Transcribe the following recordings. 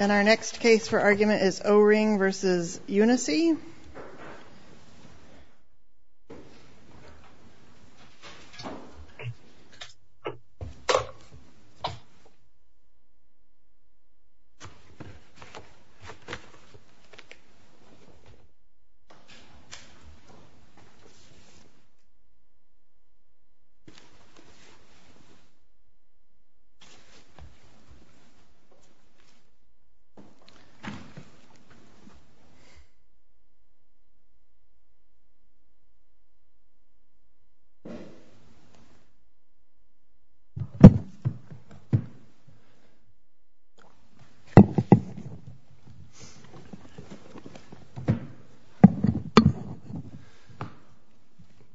And our next case for argument is Ohring v. Unisea.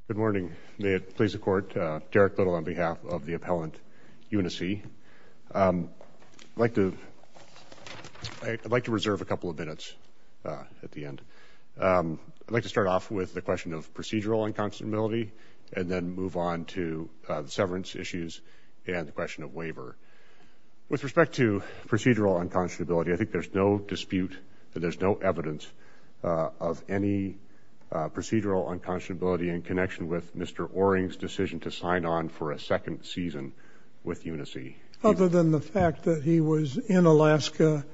Good morning, may it please the Court, Derek Little on behalf of the appellant, Unisea. I'd like to reserve a couple of minutes at the end. I'd like to start off with the question of procedural unconscionability and then move on to the severance issues and the question of waiver. With respect to procedural unconscionability, I think there's no dispute that there's no evidence of any procedural unconscionability in connection with Mr. Ohring's decision to sign on for a second season with Unisea. Other than the fact that he was in Alaska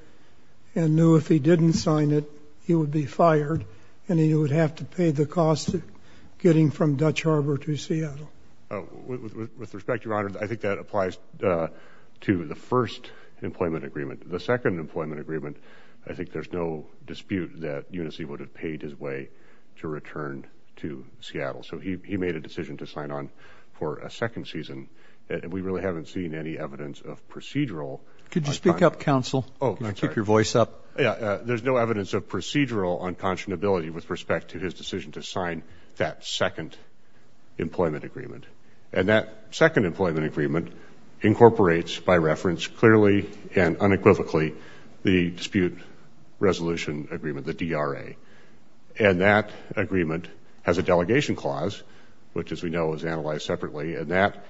and knew if he didn't sign it, he would be fired and he would have to pay the cost of getting from Dutch Harbor to Seattle. With respect, Your Honor, I think that applies to the first employment agreement. The second employment agreement, I think there's no dispute that Unisea would have paid his way to return to Seattle. So he made a decision to sign on for a second season. We really haven't seen any evidence of procedural. Could you speak up, counsel? Oh, I'm sorry. Keep your voice up. There's no evidence of procedural unconscionability with respect to his decision to sign that second employment agreement. And that second employment agreement incorporates by reference clearly and unequivocally the dispute resolution agreement, the DRA. And that agreement has a delegation clause, which, as we know, is analyzed separately. And that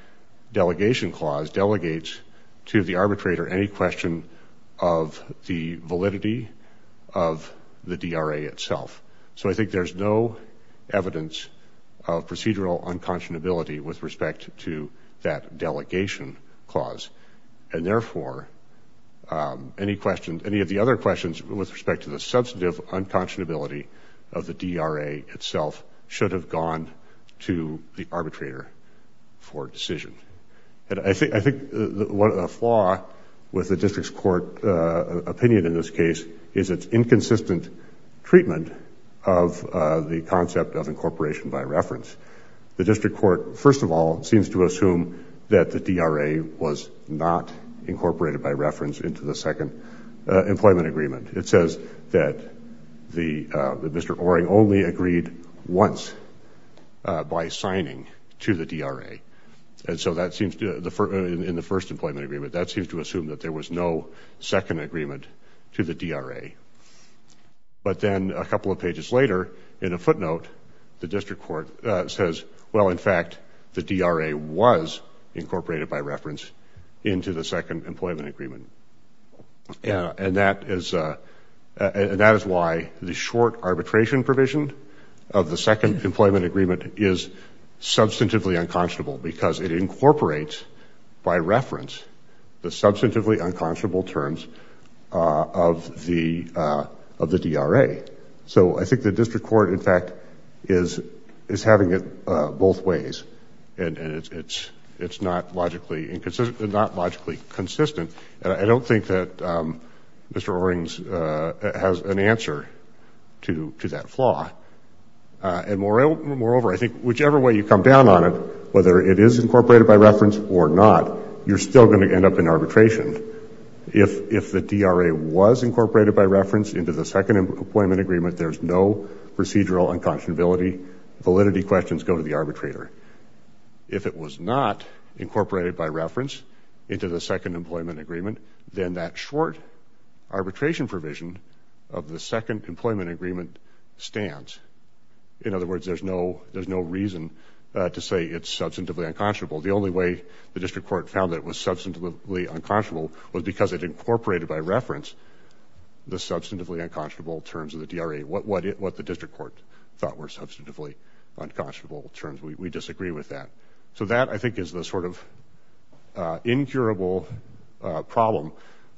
delegation clause delegates to the arbitrator any question of the validity of the DRA itself. So I think there's no evidence of procedural unconscionability with respect to that delegation clause. And, therefore, any of the other questions with respect to the substantive unconscionability of the DRA itself should have gone to the arbitrator for decision. I think a flaw with the district's court opinion in this case is its inconsistent treatment of the concept of incorporation by reference. The district court, first of all, seems to assume that the DRA was not incorporated by reference into the second employment agreement. It says that Mr. Oering only agreed once by signing to the DRA. And so in the first employment agreement, that seems to assume that there was no second agreement to the DRA. But then a couple of pages later, in a footnote, the district court says, well, in fact, the DRA was incorporated by reference into the second employment agreement. And that is why the short arbitration provision of the second employment agreement is substantively unconscionable, because it incorporates by reference the substantively unconscionable terms of the DRA. So I think the district court, in fact, is having it both ways, and it's not logically consistent. And I don't think that Mr. Oering has an answer to that flaw. And moreover, I think whichever way you come down on it, whether it is incorporated by reference or not, you're still going to end up in arbitration. If the DRA was incorporated by reference into the second employment agreement, there's no procedural unconscionability. Validity questions go to the arbitrator. If it was not incorporated by reference into the second employment agreement, then that short arbitration provision of the second employment agreement stands. In other words, there's no reason to say it's substantively unconscionable. The only way the district court found that it was substantively unconscionable was because it incorporated by reference the substantively unconscionable terms of the DRA, what the district court thought were substantively unconscionable terms. We disagree with that. So that, I think, is the sort of incurable problem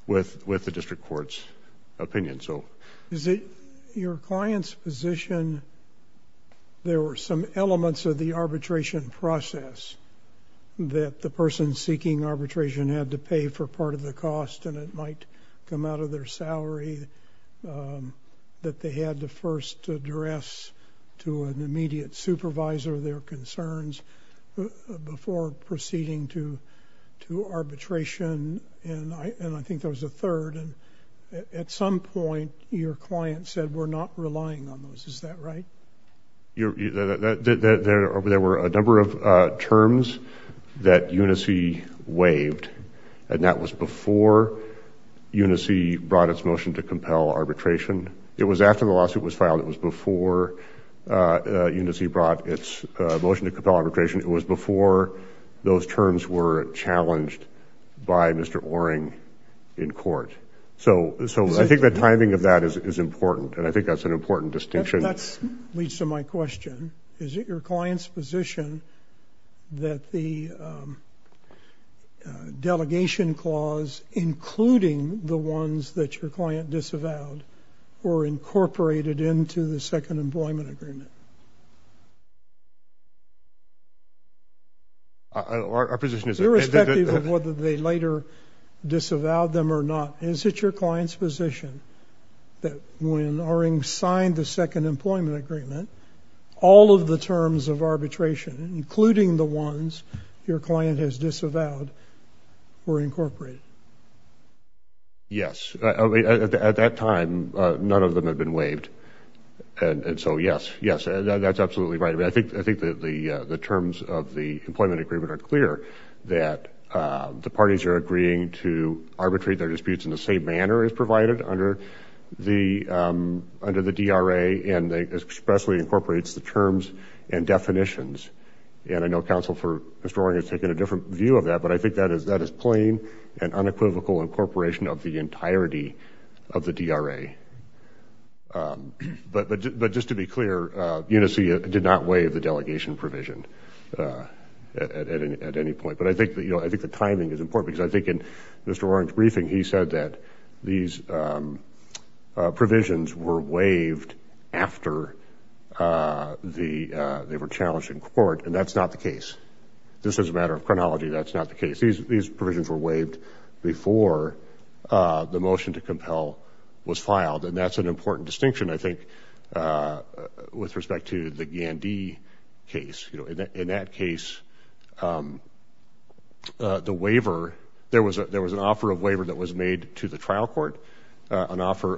with the district court's opinion. Is it your client's position there were some elements of the arbitration process that the person seeking arbitration had to pay for part of the cost, and it might come out of their salary, that they had to first address to an immediate supervisor their concerns before proceeding to arbitration? And I think there was a third. And at some point, your client said, we're not relying on those. Is that right? There were a number of terms that UNICE waived, and that was before UNICE brought its motion to compel arbitration. It was after the lawsuit was filed. It was before UNICE brought its motion to compel arbitration. It was before those terms were challenged by Mr. Oring in court. So I think the timing of that is important, and I think that's an important distinction. That leads to my question. Is it your client's position that the delegation clause, including the ones that your client disavowed, were incorporated into the second employment agreement? Our position is that they did. Irrespective of whether they later disavowed them or not, is it your client's position that when Oring signed the second employment agreement, all of the terms of arbitration, including the ones your client has disavowed, were incorporated? Yes. At that time, none of them had been waived. And so, yes, yes, that's absolutely right. I think the terms of the employment agreement are clear, that the parties are agreeing to arbitrate their disputes in the same manner as provided under the DRA, and it expressly incorporates the terms and definitions. And I know counsel for Mr. Oring has taken a different view of that, but I think that is plain and unequivocal incorporation of the entirety of the DRA. But just to be clear, UNICEF did not waive the delegation provision at any point. But I think the timing is important, because I think in Mr. Oring's briefing, he said that these provisions were waived after they were challenged in court, and that's not the case. This is a matter of chronology. That's not the case. These provisions were waived before the motion to compel was filed, and that's an important distinction, I think, with respect to the Gandhi case. In that case, the waiver, there was an offer of waiver that was made to the trial court, an offer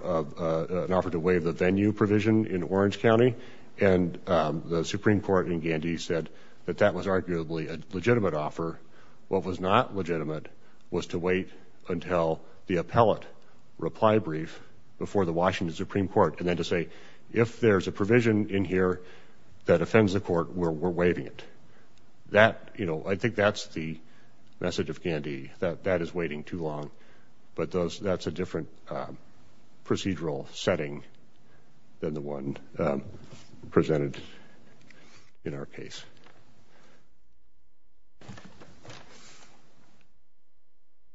to waive the venue provision in Orange County, and the Supreme Court in Gandhi said that that was arguably a legitimate offer. What was not legitimate was to wait until the appellate reply brief before the Washington Supreme Court and then to say, if there's a provision in here that offends the court, we're waiving it. That, you know, I think that's the message of Gandhi, that that is waiting too long. But that's a different procedural setting than the one presented in our case.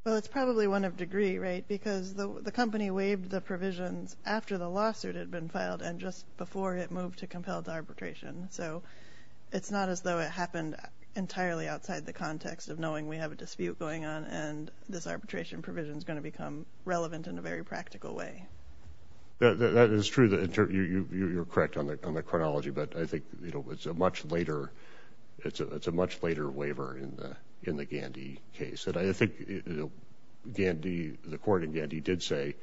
Well, it's probably one of degree, right? Because the company waived the provisions after the lawsuit had been filed and just before it moved to compelled arbitration. So it's not as though it happened entirely outside the context of knowing we have a dispute going on and this arbitration provision is going to become relevant in a very practical way. That is true. You're correct on the chronology. But I think it's a much later waiver in the Gandhi case. And I think the court in Gandhi did say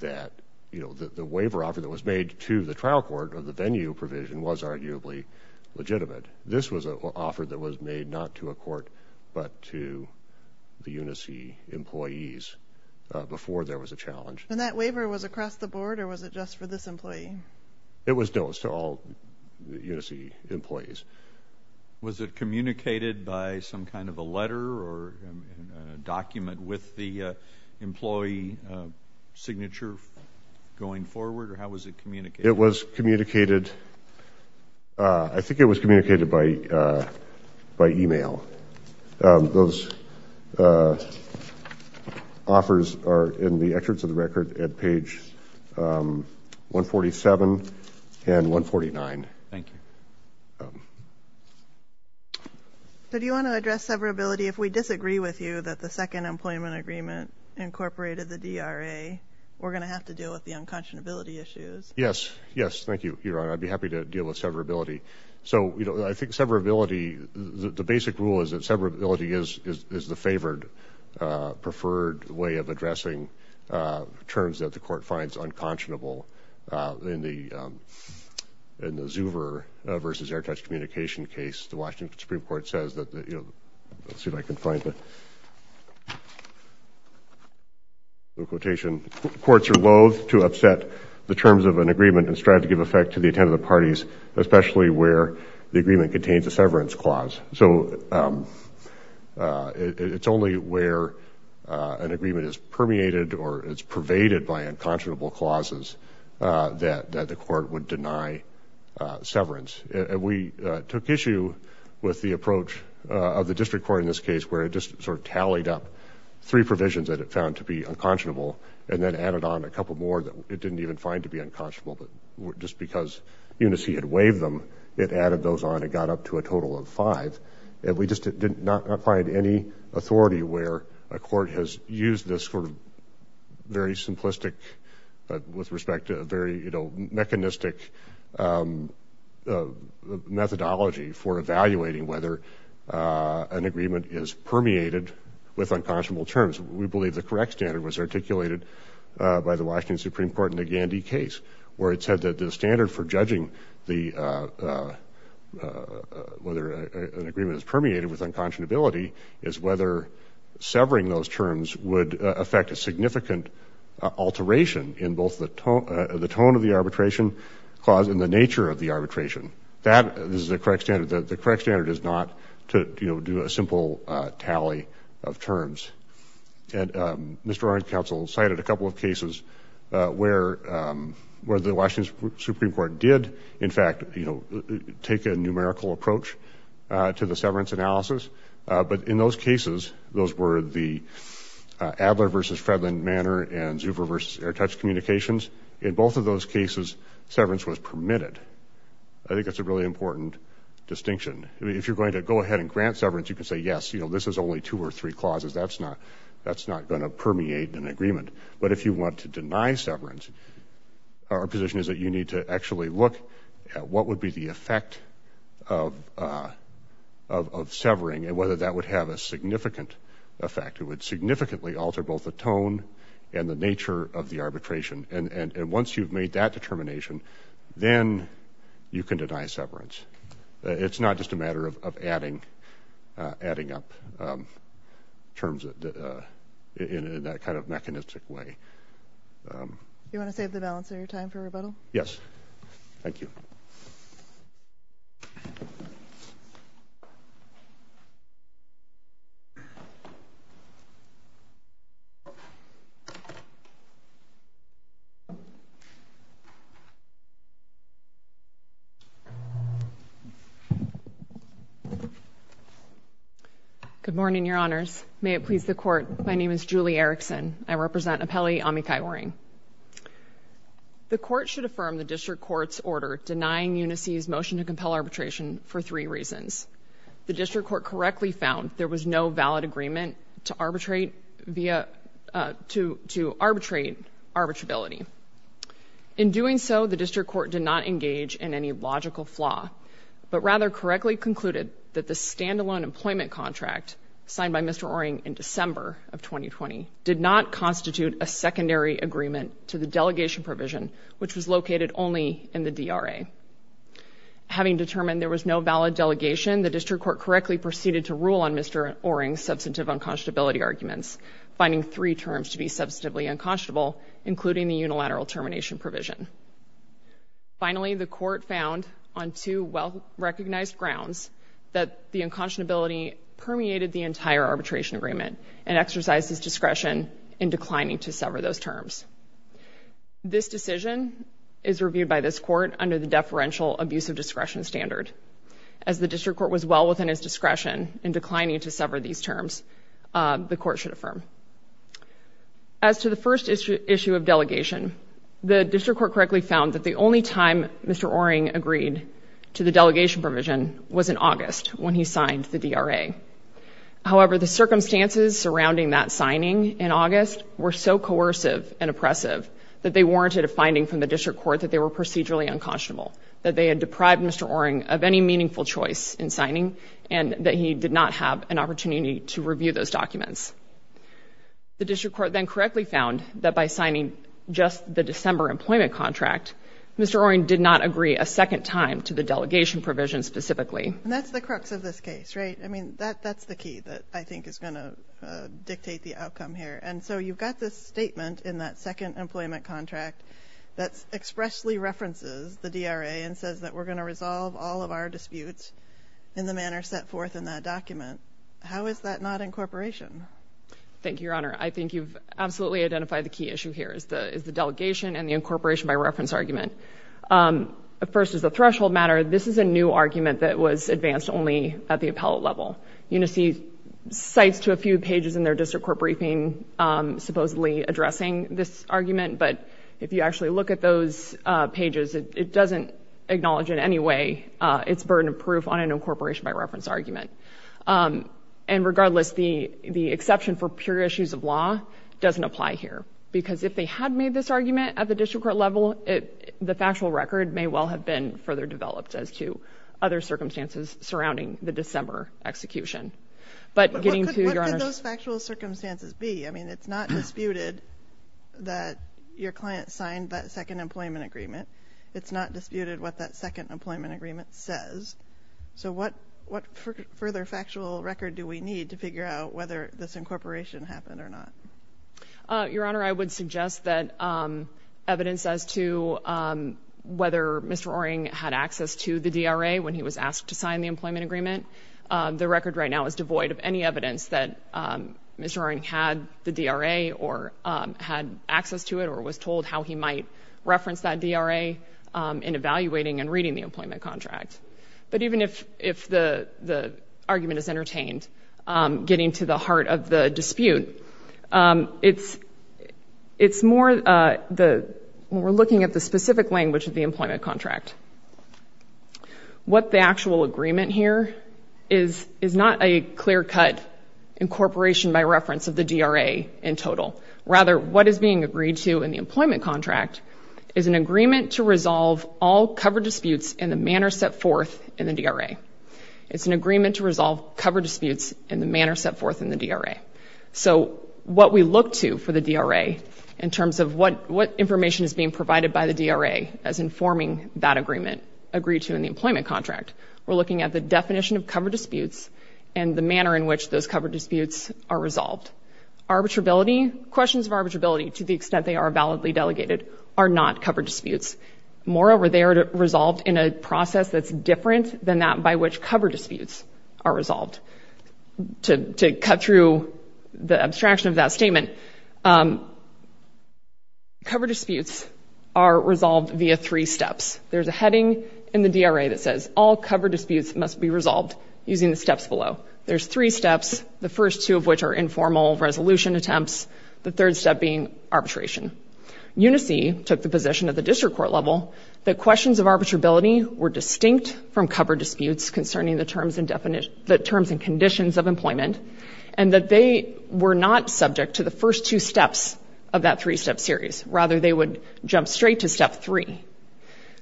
that the waiver offer that was made to the trial court or the venue provision was arguably legitimate. This was an offer that was made not to a court but to the UNICE employees before there was a challenge. And that waiver was across the board or was it just for this employee? It was to all the UNICE employees. Was it communicated by some kind of a letter or document with the employee signature going forward? Or how was it communicated? It was communicated. I think it was communicated by e-mail. Those offers are in the excerpts of the record at page 147 and 149. Thank you. Do you want to address severability if we disagree with you that the second employment agreement incorporated the DRA? We're going to have to deal with the unconscionability issues. Yes. Yes. Thank you, Your Honor. I'd be happy to deal with severability. So, you know, I think severability, the basic rule is that severability is the favored, preferred way of addressing terms that the court finds unconscionable. In the Zuver v. Airtouch communication case, the Washington Supreme Court says that, you know, let's see if I can find the quotation, courts are loathe to upset the terms of an agreement and strive to give effect to the intent of the parties, especially where the agreement contains a severance clause. So it's only where an agreement is permeated or is pervaded by unconscionable clauses that the court would deny severance. We took issue with the approach of the district court in this case, where it just sort of tallied up three provisions that it found to be unconscionable and then added on a couple more that it didn't even find to be unconscionable. But just because Unicey had waived them, it added those on and got up to a total of five. And we just did not find any authority where a court has used this sort of very simplistic, with respect to a very mechanistic methodology for evaluating whether an agreement is permeated with unconscionable terms. We believe the correct standard was articulated by the Washington Supreme Court in the Gandy case, where it said that the standard for judging whether an agreement is permeated with unconscionability is whether severing those terms would affect a significant alteration in both the tone of the arbitration clause and the nature of the arbitration. That is the correct standard. The correct standard is not to do a simple tally of terms. And Mr. Orange Counsel cited a couple of cases where the Washington Supreme Court did, in fact, take a numerical approach to the severance analysis. But in those cases, those were the Adler v. Fredlund Manor and Zuber v. Airtouch Communications. In both of those cases, severance was permitted. I think that's a really important distinction. If you're going to go ahead and grant severance, you can say, yes, this is only two or three clauses. That's not going to permeate an agreement. But if you want to deny severance, our position is that you need to actually look at what would be the effect of severing and whether that would have a significant effect. It would significantly alter both the tone and the nature of the arbitration. And once you've made that determination, then you can deny severance. It's not just a matter of adding up terms in that kind of mechanistic way. You want to save the balance of your time for rebuttal? Yes. Thank you. Good morning, Your Honors. May it please the Court. My name is Julie Erickson. I represent Appellee Amikai Oring. The Court should affirm the District Court's order denying UNICEF's motion to compel arbitration for three reasons. The District Court correctly found there was no valid agreement to arbitrate arbitrability. In doing so, the District Court did not engage in any logical flaw. But rather correctly concluded that the stand-alone employment contract signed by Mr. Oring in December of 2020 did not constitute a secondary agreement to the delegation provision, which was located only in the DRA. Having determined there was no valid delegation, the District Court correctly proceeded to rule on Mr. Oring's substantive unconscionability arguments, finding three terms to be substantively unconscionable, including the unilateral termination provision. Finally, the Court found, on two well-recognized grounds, that the unconscionability permeated the entire arbitration agreement and exercised his discretion in declining to sever those terms. This decision is reviewed by this Court under the deferential abuse of discretion standard. As the District Court was well within its discretion in declining to sever these terms, the Court should affirm. As to the first issue of delegation, the District Court correctly found that the only time Mr. Oring agreed to the delegation provision was in August, when he signed the DRA. However, the circumstances surrounding that signing in August were so coercive and oppressive that they warranted a finding from the District Court that they were procedurally unconscionable, that they had deprived Mr. Oring of any meaningful choice in signing, and that he did not have an opportunity to review those documents. The District Court then correctly found that by signing just the December employment contract, Mr. Oring did not agree a second time to the delegation provision specifically. And that's the crux of this case, right? I mean, that's the key that I think is going to dictate the outcome here. And so you've got this statement in that second employment contract that expressly references the DRA and says that we're going to resolve all of our disputes in the manner set forth in that document. How is that not incorporation? Thank you, Your Honor. I think you've absolutely identified the key issue here is the delegation and the incorporation by reference argument. First is the threshold matter. This is a new argument that was advanced only at the appellate level. UNICEF cites to a few pages in their District Court briefing supposedly addressing this argument, but if you actually look at those pages, it doesn't acknowledge in any way its burden of proof on an incorporation by reference argument. And regardless, the exception for pure issues of law doesn't apply here, because if they had made this argument at the District Court level, the factual record may well have been further developed as to other circumstances surrounding the December execution. But getting to, Your Honor. What could those factual circumstances be? I mean, it's not disputed that your client signed that second employment agreement. It's not disputed what that second employment agreement says. So what further factual record do we need to figure out whether this incorporation happened or not? Your Honor, I would suggest that evidence as to whether Mr. Oering had access to the DRA when he was asked to sign the employment agreement. The record right now is devoid of any evidence that Mr. Oering had the DRA or had access to it or was told how he might reference that DRA in evaluating and reading the employment contract. But even if the argument is entertained, getting to the heart of the dispute, it's more when we're looking at the specific language of the employment contract. What the actual agreement here is, is not a clear-cut incorporation by reference of the DRA in total. Rather, what is being agreed to in the employment contract is an agreement to resolve all cover disputes in the manner set forth in the DRA. It's an agreement to resolve cover disputes in the manner set forth in the DRA. So what we look to for the DRA in terms of what information is being provided by the DRA as informing that agreement agreed to in the employment contract, we're looking at the definition of cover disputes and the manner in which those cover disputes are resolved. Arbitrability, questions of arbitrability, to the extent they are validly delegated, are not cover disputes. Moreover, they are resolved in a process that's different than that by which cover disputes are resolved. To cut through the abstraction of that statement, cover disputes are resolved via three steps. There's a heading in the DRA that says, all cover disputes must be resolved using the steps below. There's three steps, the first two of which are informal resolution attempts, the third step being arbitration. UNICE took the position at the district court level that questions of arbitrability were distinct from cover disputes concerning the terms and conditions of employment and that they were not subject to the first two steps of that three-step series. Rather, they would jump straight to step three.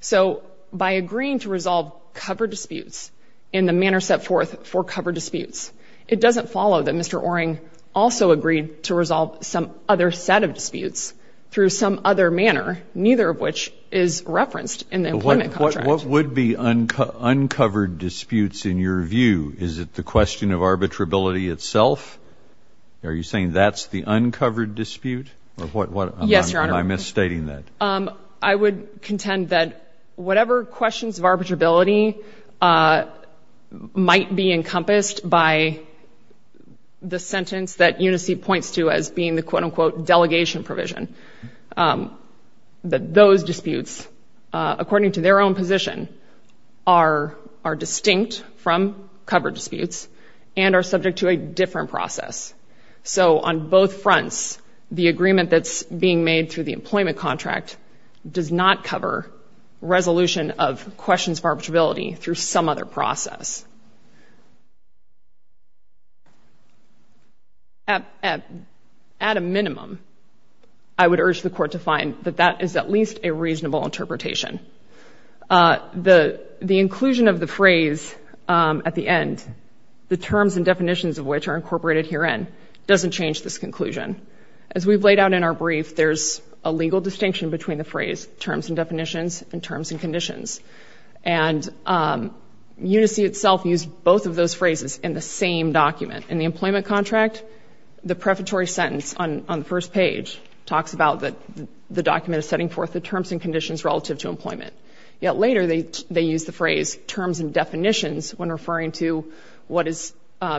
So by agreeing to resolve cover disputes in the manner set forth for cover disputes, it doesn't follow that Mr. Oring also agreed to resolve some other set of disputes through some other manner, neither of which is referenced in the employment contract. What would be uncovered disputes in your view? Is it the question of arbitrability itself? Are you saying that's the uncovered dispute? Yes, Your Honor. Or am I misstating that? I would contend that whatever questions of arbitrability might be encompassed by the sentence that UNICE points to as being the quote-unquote delegation provision, that those disputes, according to their own position, are distinct from cover disputes and are subject to a different process. So on both fronts, the agreement that's being made through the employment contract does not cover resolution of questions of arbitrability through some other process. At a minimum, I would urge the Court to find that that is at least a reasonable interpretation. The inclusion of the phrase at the end, the terms and definitions of which are incorporated herein, doesn't change this conclusion. As we've laid out in our brief, there's a legal distinction between the phrase terms and definitions and terms and conditions. And UNICE itself used both of those phrases in the same document. In the employment contract, the prefatory sentence on the first page talks about that the document is setting forth the terms and conditions relative to employment. Yet later, they used the phrase terms and definitions when referring to what is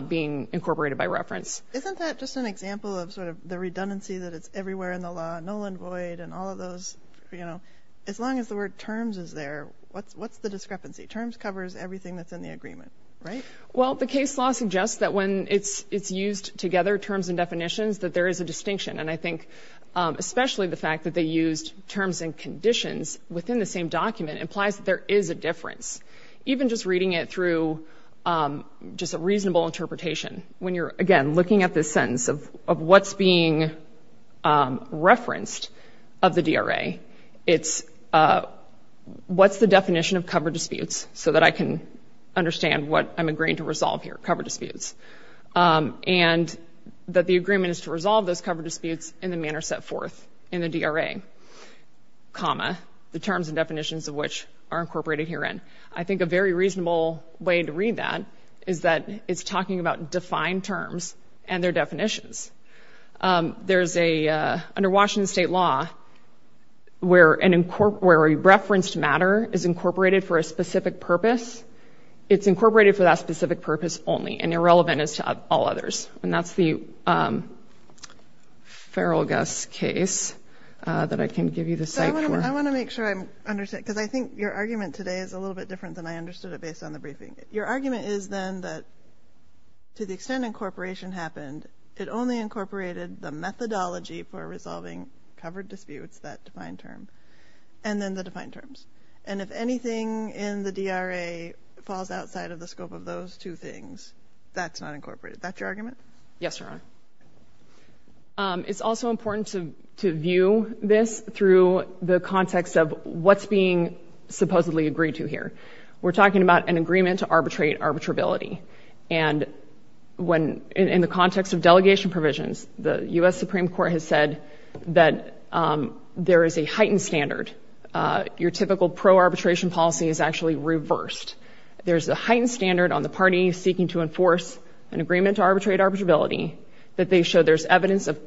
being incorporated by reference. Isn't that just an example of sort of the redundancy that it's everywhere in the law, null and void and all of those, you know, as long as the word terms is there, what's the discrepancy? Terms covers everything that's in the agreement, right? Well, the case law suggests that when it's used together, terms and definitions, that there is a distinction. And I think especially the fact that they used terms and conditions within the same document implies that there is a difference. Even just reading it through just a reasonable interpretation, when you're, again, looking at this sentence of what's being referenced of the DRA, it's what's the definition of cover disputes so that I can understand what I'm agreeing to resolve here, cover disputes. And that the agreement is to resolve those cover disputes in the manner set forth in the DRA, comma, the terms and definitions of which are incorporated herein. I think a very reasonable way to read that is that it's talking about defined terms and their definitions. There's a, under Washington state law, where a referenced matter is incorporated for a specific purpose, it's incorporated for that specific purpose only and irrelevant as to all others. And that's the Feral Gus case that I can give you the site for. I want to make sure I'm understanding, because I think your argument today is a little bit different than I understood it based on the briefing. Your argument is then that to the extent incorporation happened, it only incorporated the methodology for resolving covered disputes, that defined term, and then the defined terms. And if anything in the DRA falls outside of the scope of those two things, that's not incorporated. Is that your argument? Yes, Your Honor. It's also important to view this through the context of what's being supposedly agreed to here. We're talking about an agreement to arbitrate arbitrability. And when, in the context of delegation provisions, the U.S. Supreme Court has said that there is a heightened standard. Your typical pro-arbitration policy is actually reversed. There's a heightened standard on the party seeking to enforce an agreement to arbitrate arbitrability that they show there's evidence of,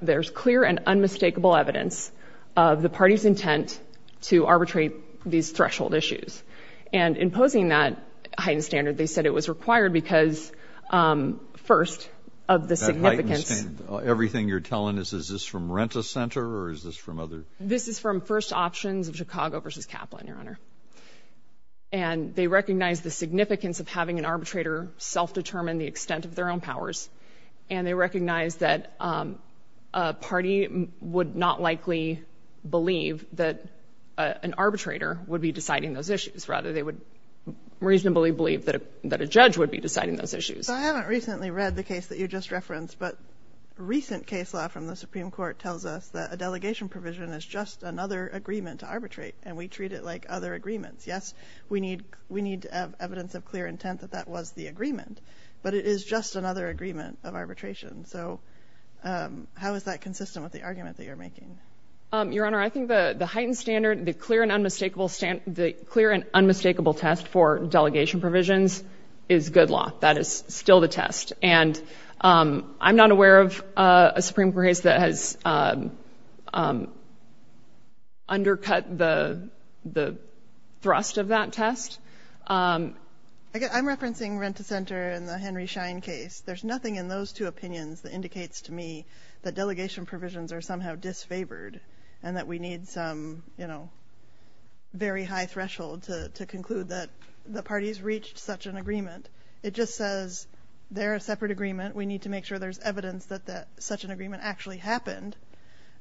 there's clear and unmistakable evidence of the party's intent to arbitrate these threshold issues. And imposing that heightened standard, they said it was required because, first, of the significance... That heightened standard, everything you're telling us, is this from Rent-A-Center or is this from other... This is from First Options of Chicago v. Kaplan, Your Honor. And they recognize the significance of having an arbitrator self-determine the extent of their own powers. And they recognize that a party would not likely believe that an arbitrator would be deciding those issues. Rather, they would reasonably believe that a judge would be deciding those issues. So I haven't recently read the case that you just referenced, but recent case law from the Supreme Court tells us that a delegation provision is just another agreement to arbitrate, and we treat it like other agreements. Yes, we need evidence of clear intent that that was the agreement, but it is just another agreement of arbitration. So how is that consistent with the argument that you're making? Your Honor, I think the heightened standard, the clear and unmistakable test for delegation provisions is good law. That is still the test. And I'm not aware of a Supreme Court case that has undercut the thrust of that test. I'm referencing Rent-A-Center and the Henry Schein case. There's nothing in those two opinions that indicates to me that delegation provisions are somehow disfavored and that we need some, you know, very high threshold to conclude that the parties reached such an agreement. It just says they're a separate agreement. We need to make sure there's evidence that such an agreement actually happened.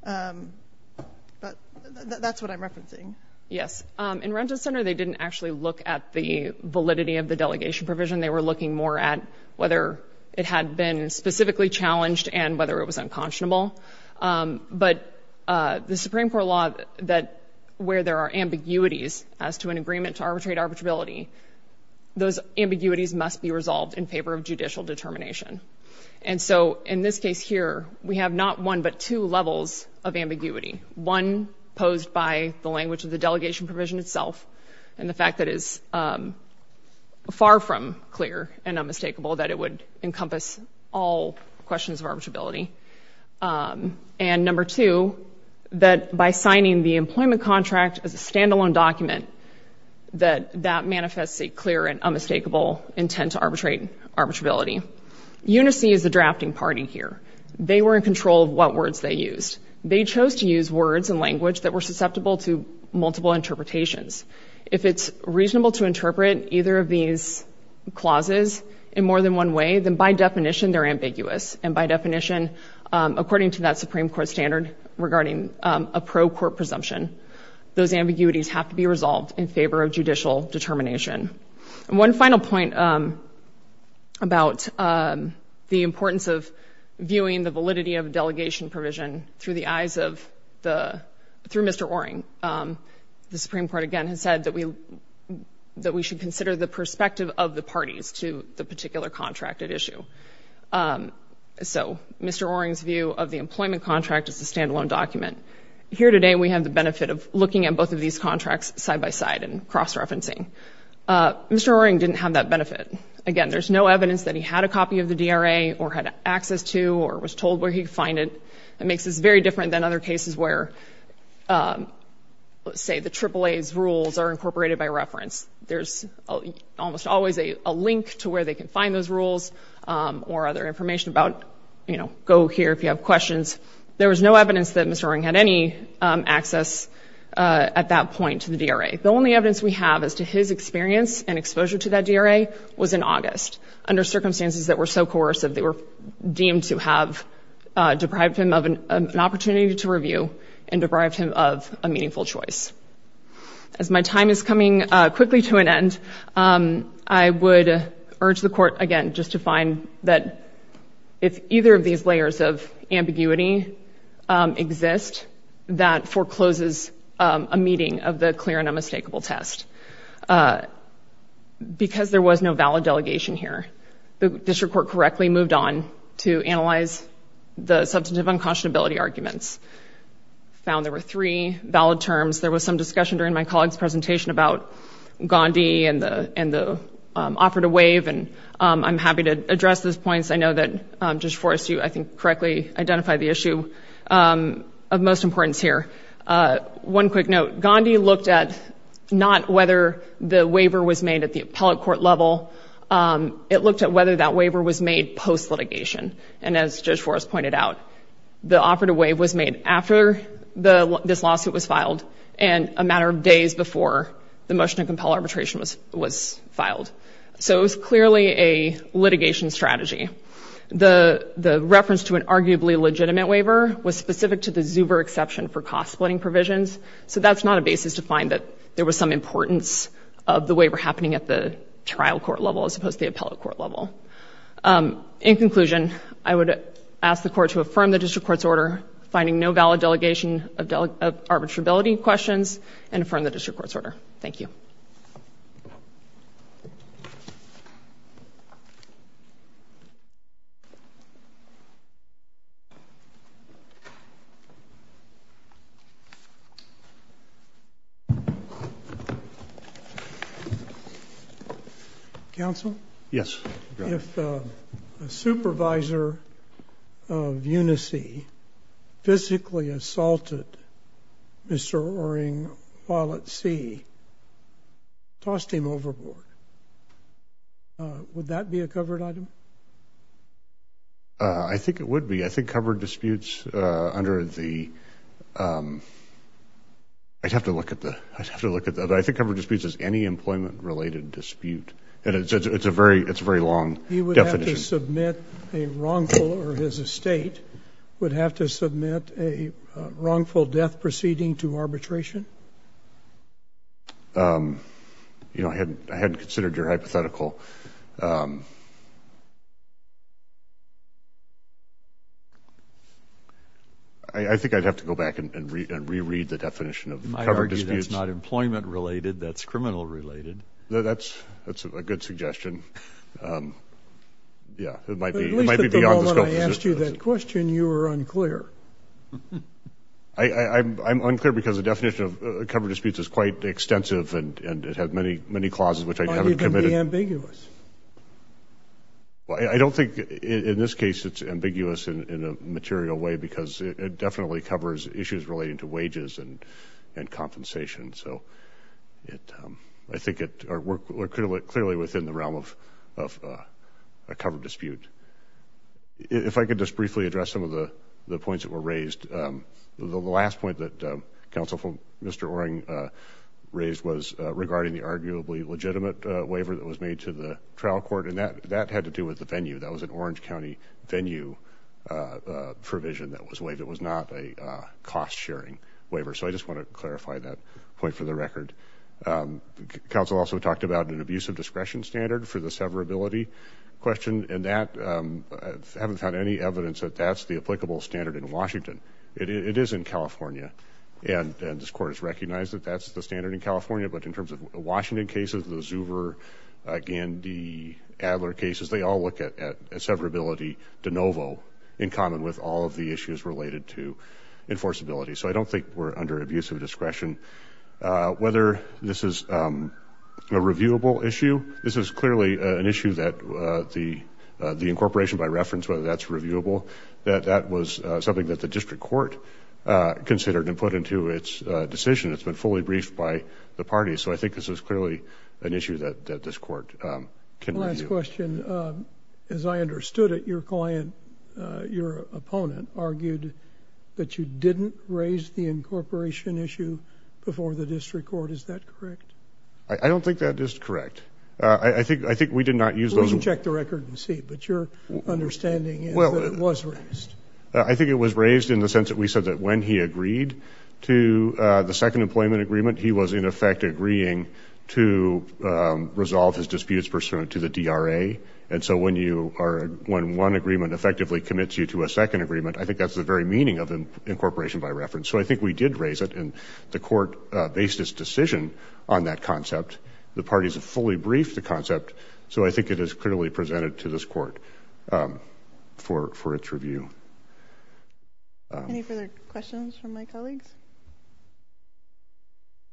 But that's what I'm referencing. Yes. In Rent-A-Center, they didn't actually look at the validity of the delegation provision. They were looking more at whether it had been specifically challenged and whether it was unconscionable. But the Supreme Court law that where there are ambiguities as to an agreement to arbitrate arbitrability, those ambiguities must be resolved in favor of judicial determination. And so in this case here, we have not one but two levels of ambiguity, one posed by the language of the delegation provision itself and the fact that it's far from clear and unmistakable that it would encompass all questions of arbitrability. And number two, that by signing the employment contract as a stand-alone document, that that manifests a clear and unmistakable intent to arbitrate arbitrability. UNICE is the drafting party here. They were in control of what words they used. They chose to use words and language that were susceptible to multiple interpretations. If it's reasonable to interpret either of these clauses in more than one way, then by definition, they're ambiguous. And by definition, according to that Supreme Court standard regarding a pro-court presumption, those ambiguities have to be resolved in favor of judicial determination. And one final point about the importance of viewing the validity of delegation provision through the eyes of the—through Mr. Oering. The Supreme Court, again, has said that we should consider the perspective of the parties to the particular contract at issue. So Mr. Oering's view of the employment contract as a stand-alone document. Here today, we have the benefit of looking at both of these contracts side-by-side and cross-referencing. Mr. Oering didn't have that benefit. Again, there's no evidence that he had a copy of the DRA or had access to or was told where he could find it. It makes this very different than other cases where, say, the AAA's rules are incorporated by reference. There's almost always a link to where they can find those rules or other information about, you know, go here if you have questions. There was no evidence that Mr. Oering had any access at that point to the DRA. The only evidence we have as to his experience and exposure to that DRA was in August under circumstances that were so coercive they were deemed to have deprived him of an opportunity to review and deprived him of a meaningful choice. As my time is coming quickly to an end, I would urge the Court, again, just to find that if either of these layers of ambiguity exist, that forecloses a meeting of the clear and unmistakable test. Because there was no valid delegation here, the District Court correctly moved on to analyze the substantive unconscionability arguments, found there were three valid terms. There was some discussion during my colleague's presentation about Gandhi and the offer to waive, and I'm happy to address those points. I know that Judge Forrest, you, I think, correctly identify the issue of most importance here. One quick note. Gandhi looked at not whether the waiver was made at the appellate court level. It looked at whether that waiver was made post-litigation. And as Judge Forrest pointed out, the offer to waive was made after this lawsuit was filed and a matter of days before the motion to compel arbitration was filed. So it was clearly a litigation strategy. The reference to an arguably legitimate waiver was specific to the Zuber exception for cost-splitting provisions, so that's not a basis to find that there was some importance of the waiver happening at the trial court level as opposed to the appellate court level. In conclusion, I would ask the Court to affirm the District Court's order, finding no valid delegation of arbitrability questions, and affirm the District Court's order. Thank you. Thank you. Counsel? Yes. If a supervisor of UNICEF physically assaulted Mr. Oering while at sea, toss him overboard. Would that be a covered item? I think it would be. I think covered disputes under the – I'd have to look at the – I think covered disputes is any employment-related dispute, and it's a very long definition. He would have to submit a wrongful – or his estate would have to submit a wrongful death proceeding to arbitration? You know, I hadn't considered your hypothetical. I think I'd have to go back and reread the definition of covered disputes. You might argue that's not employment-related, that's criminal-related. That's a good suggestion. Yeah, it might be beyond the scope of this question. At least at the moment I asked you that question, you were unclear. I'm unclear because the definition of covered disputes is quite extensive and it has many clauses which I haven't committed. It might even be ambiguous. Well, I don't think in this case it's ambiguous in a material way because it definitely covers issues relating to wages and compensation. So I think it – we're clearly within the realm of a covered dispute. If I could just briefly address some of the points that were raised. The last point that Counsel for Mr. Oering raised was regarding the arguably legitimate waiver that was made to the trial court, and that had to do with the venue. That was an Orange County venue provision that was waived. It was not a cost-sharing waiver. So I just want to clarify that point for the record. Counsel also talked about an abusive discretion standard for the severability question, and that – I haven't found any evidence that that's the applicable standard in Washington. It is in California, and this court has recognized that that's the standard in California. But in terms of Washington cases, the Zuber, Gandy, Adler cases, they all look at severability de novo in common with all of the issues related to enforceability. So I don't think we're under abusive discretion. Whether this is a reviewable issue, this is clearly an issue that the incorporation, by reference, whether that's reviewable, that that was something that the district court considered and put into its decision. It's been fully briefed by the parties. So I think this is clearly an issue that this court can review. I have a question. As I understood it, your client, your opponent, argued that you didn't raise the incorporation issue before the district court. Is that correct? I don't think that is correct. I think we did not use those – Well, you can check the record and see. But your understanding is that it was raised. I think it was raised in the sense that we said that when he agreed to the second employment agreement, he was, in effect, agreeing to resolve his disputes pursuant to the DRA. And so when one agreement effectively commits you to a second agreement, I think that's the very meaning of incorporation by reference. So I think we did raise it, and the court based its decision on that concept. The parties have fully briefed the concept. So I think it is clearly presented to this court for its review. Any further questions from my colleagues?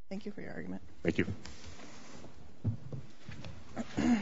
Thank you for your argument. Thank you.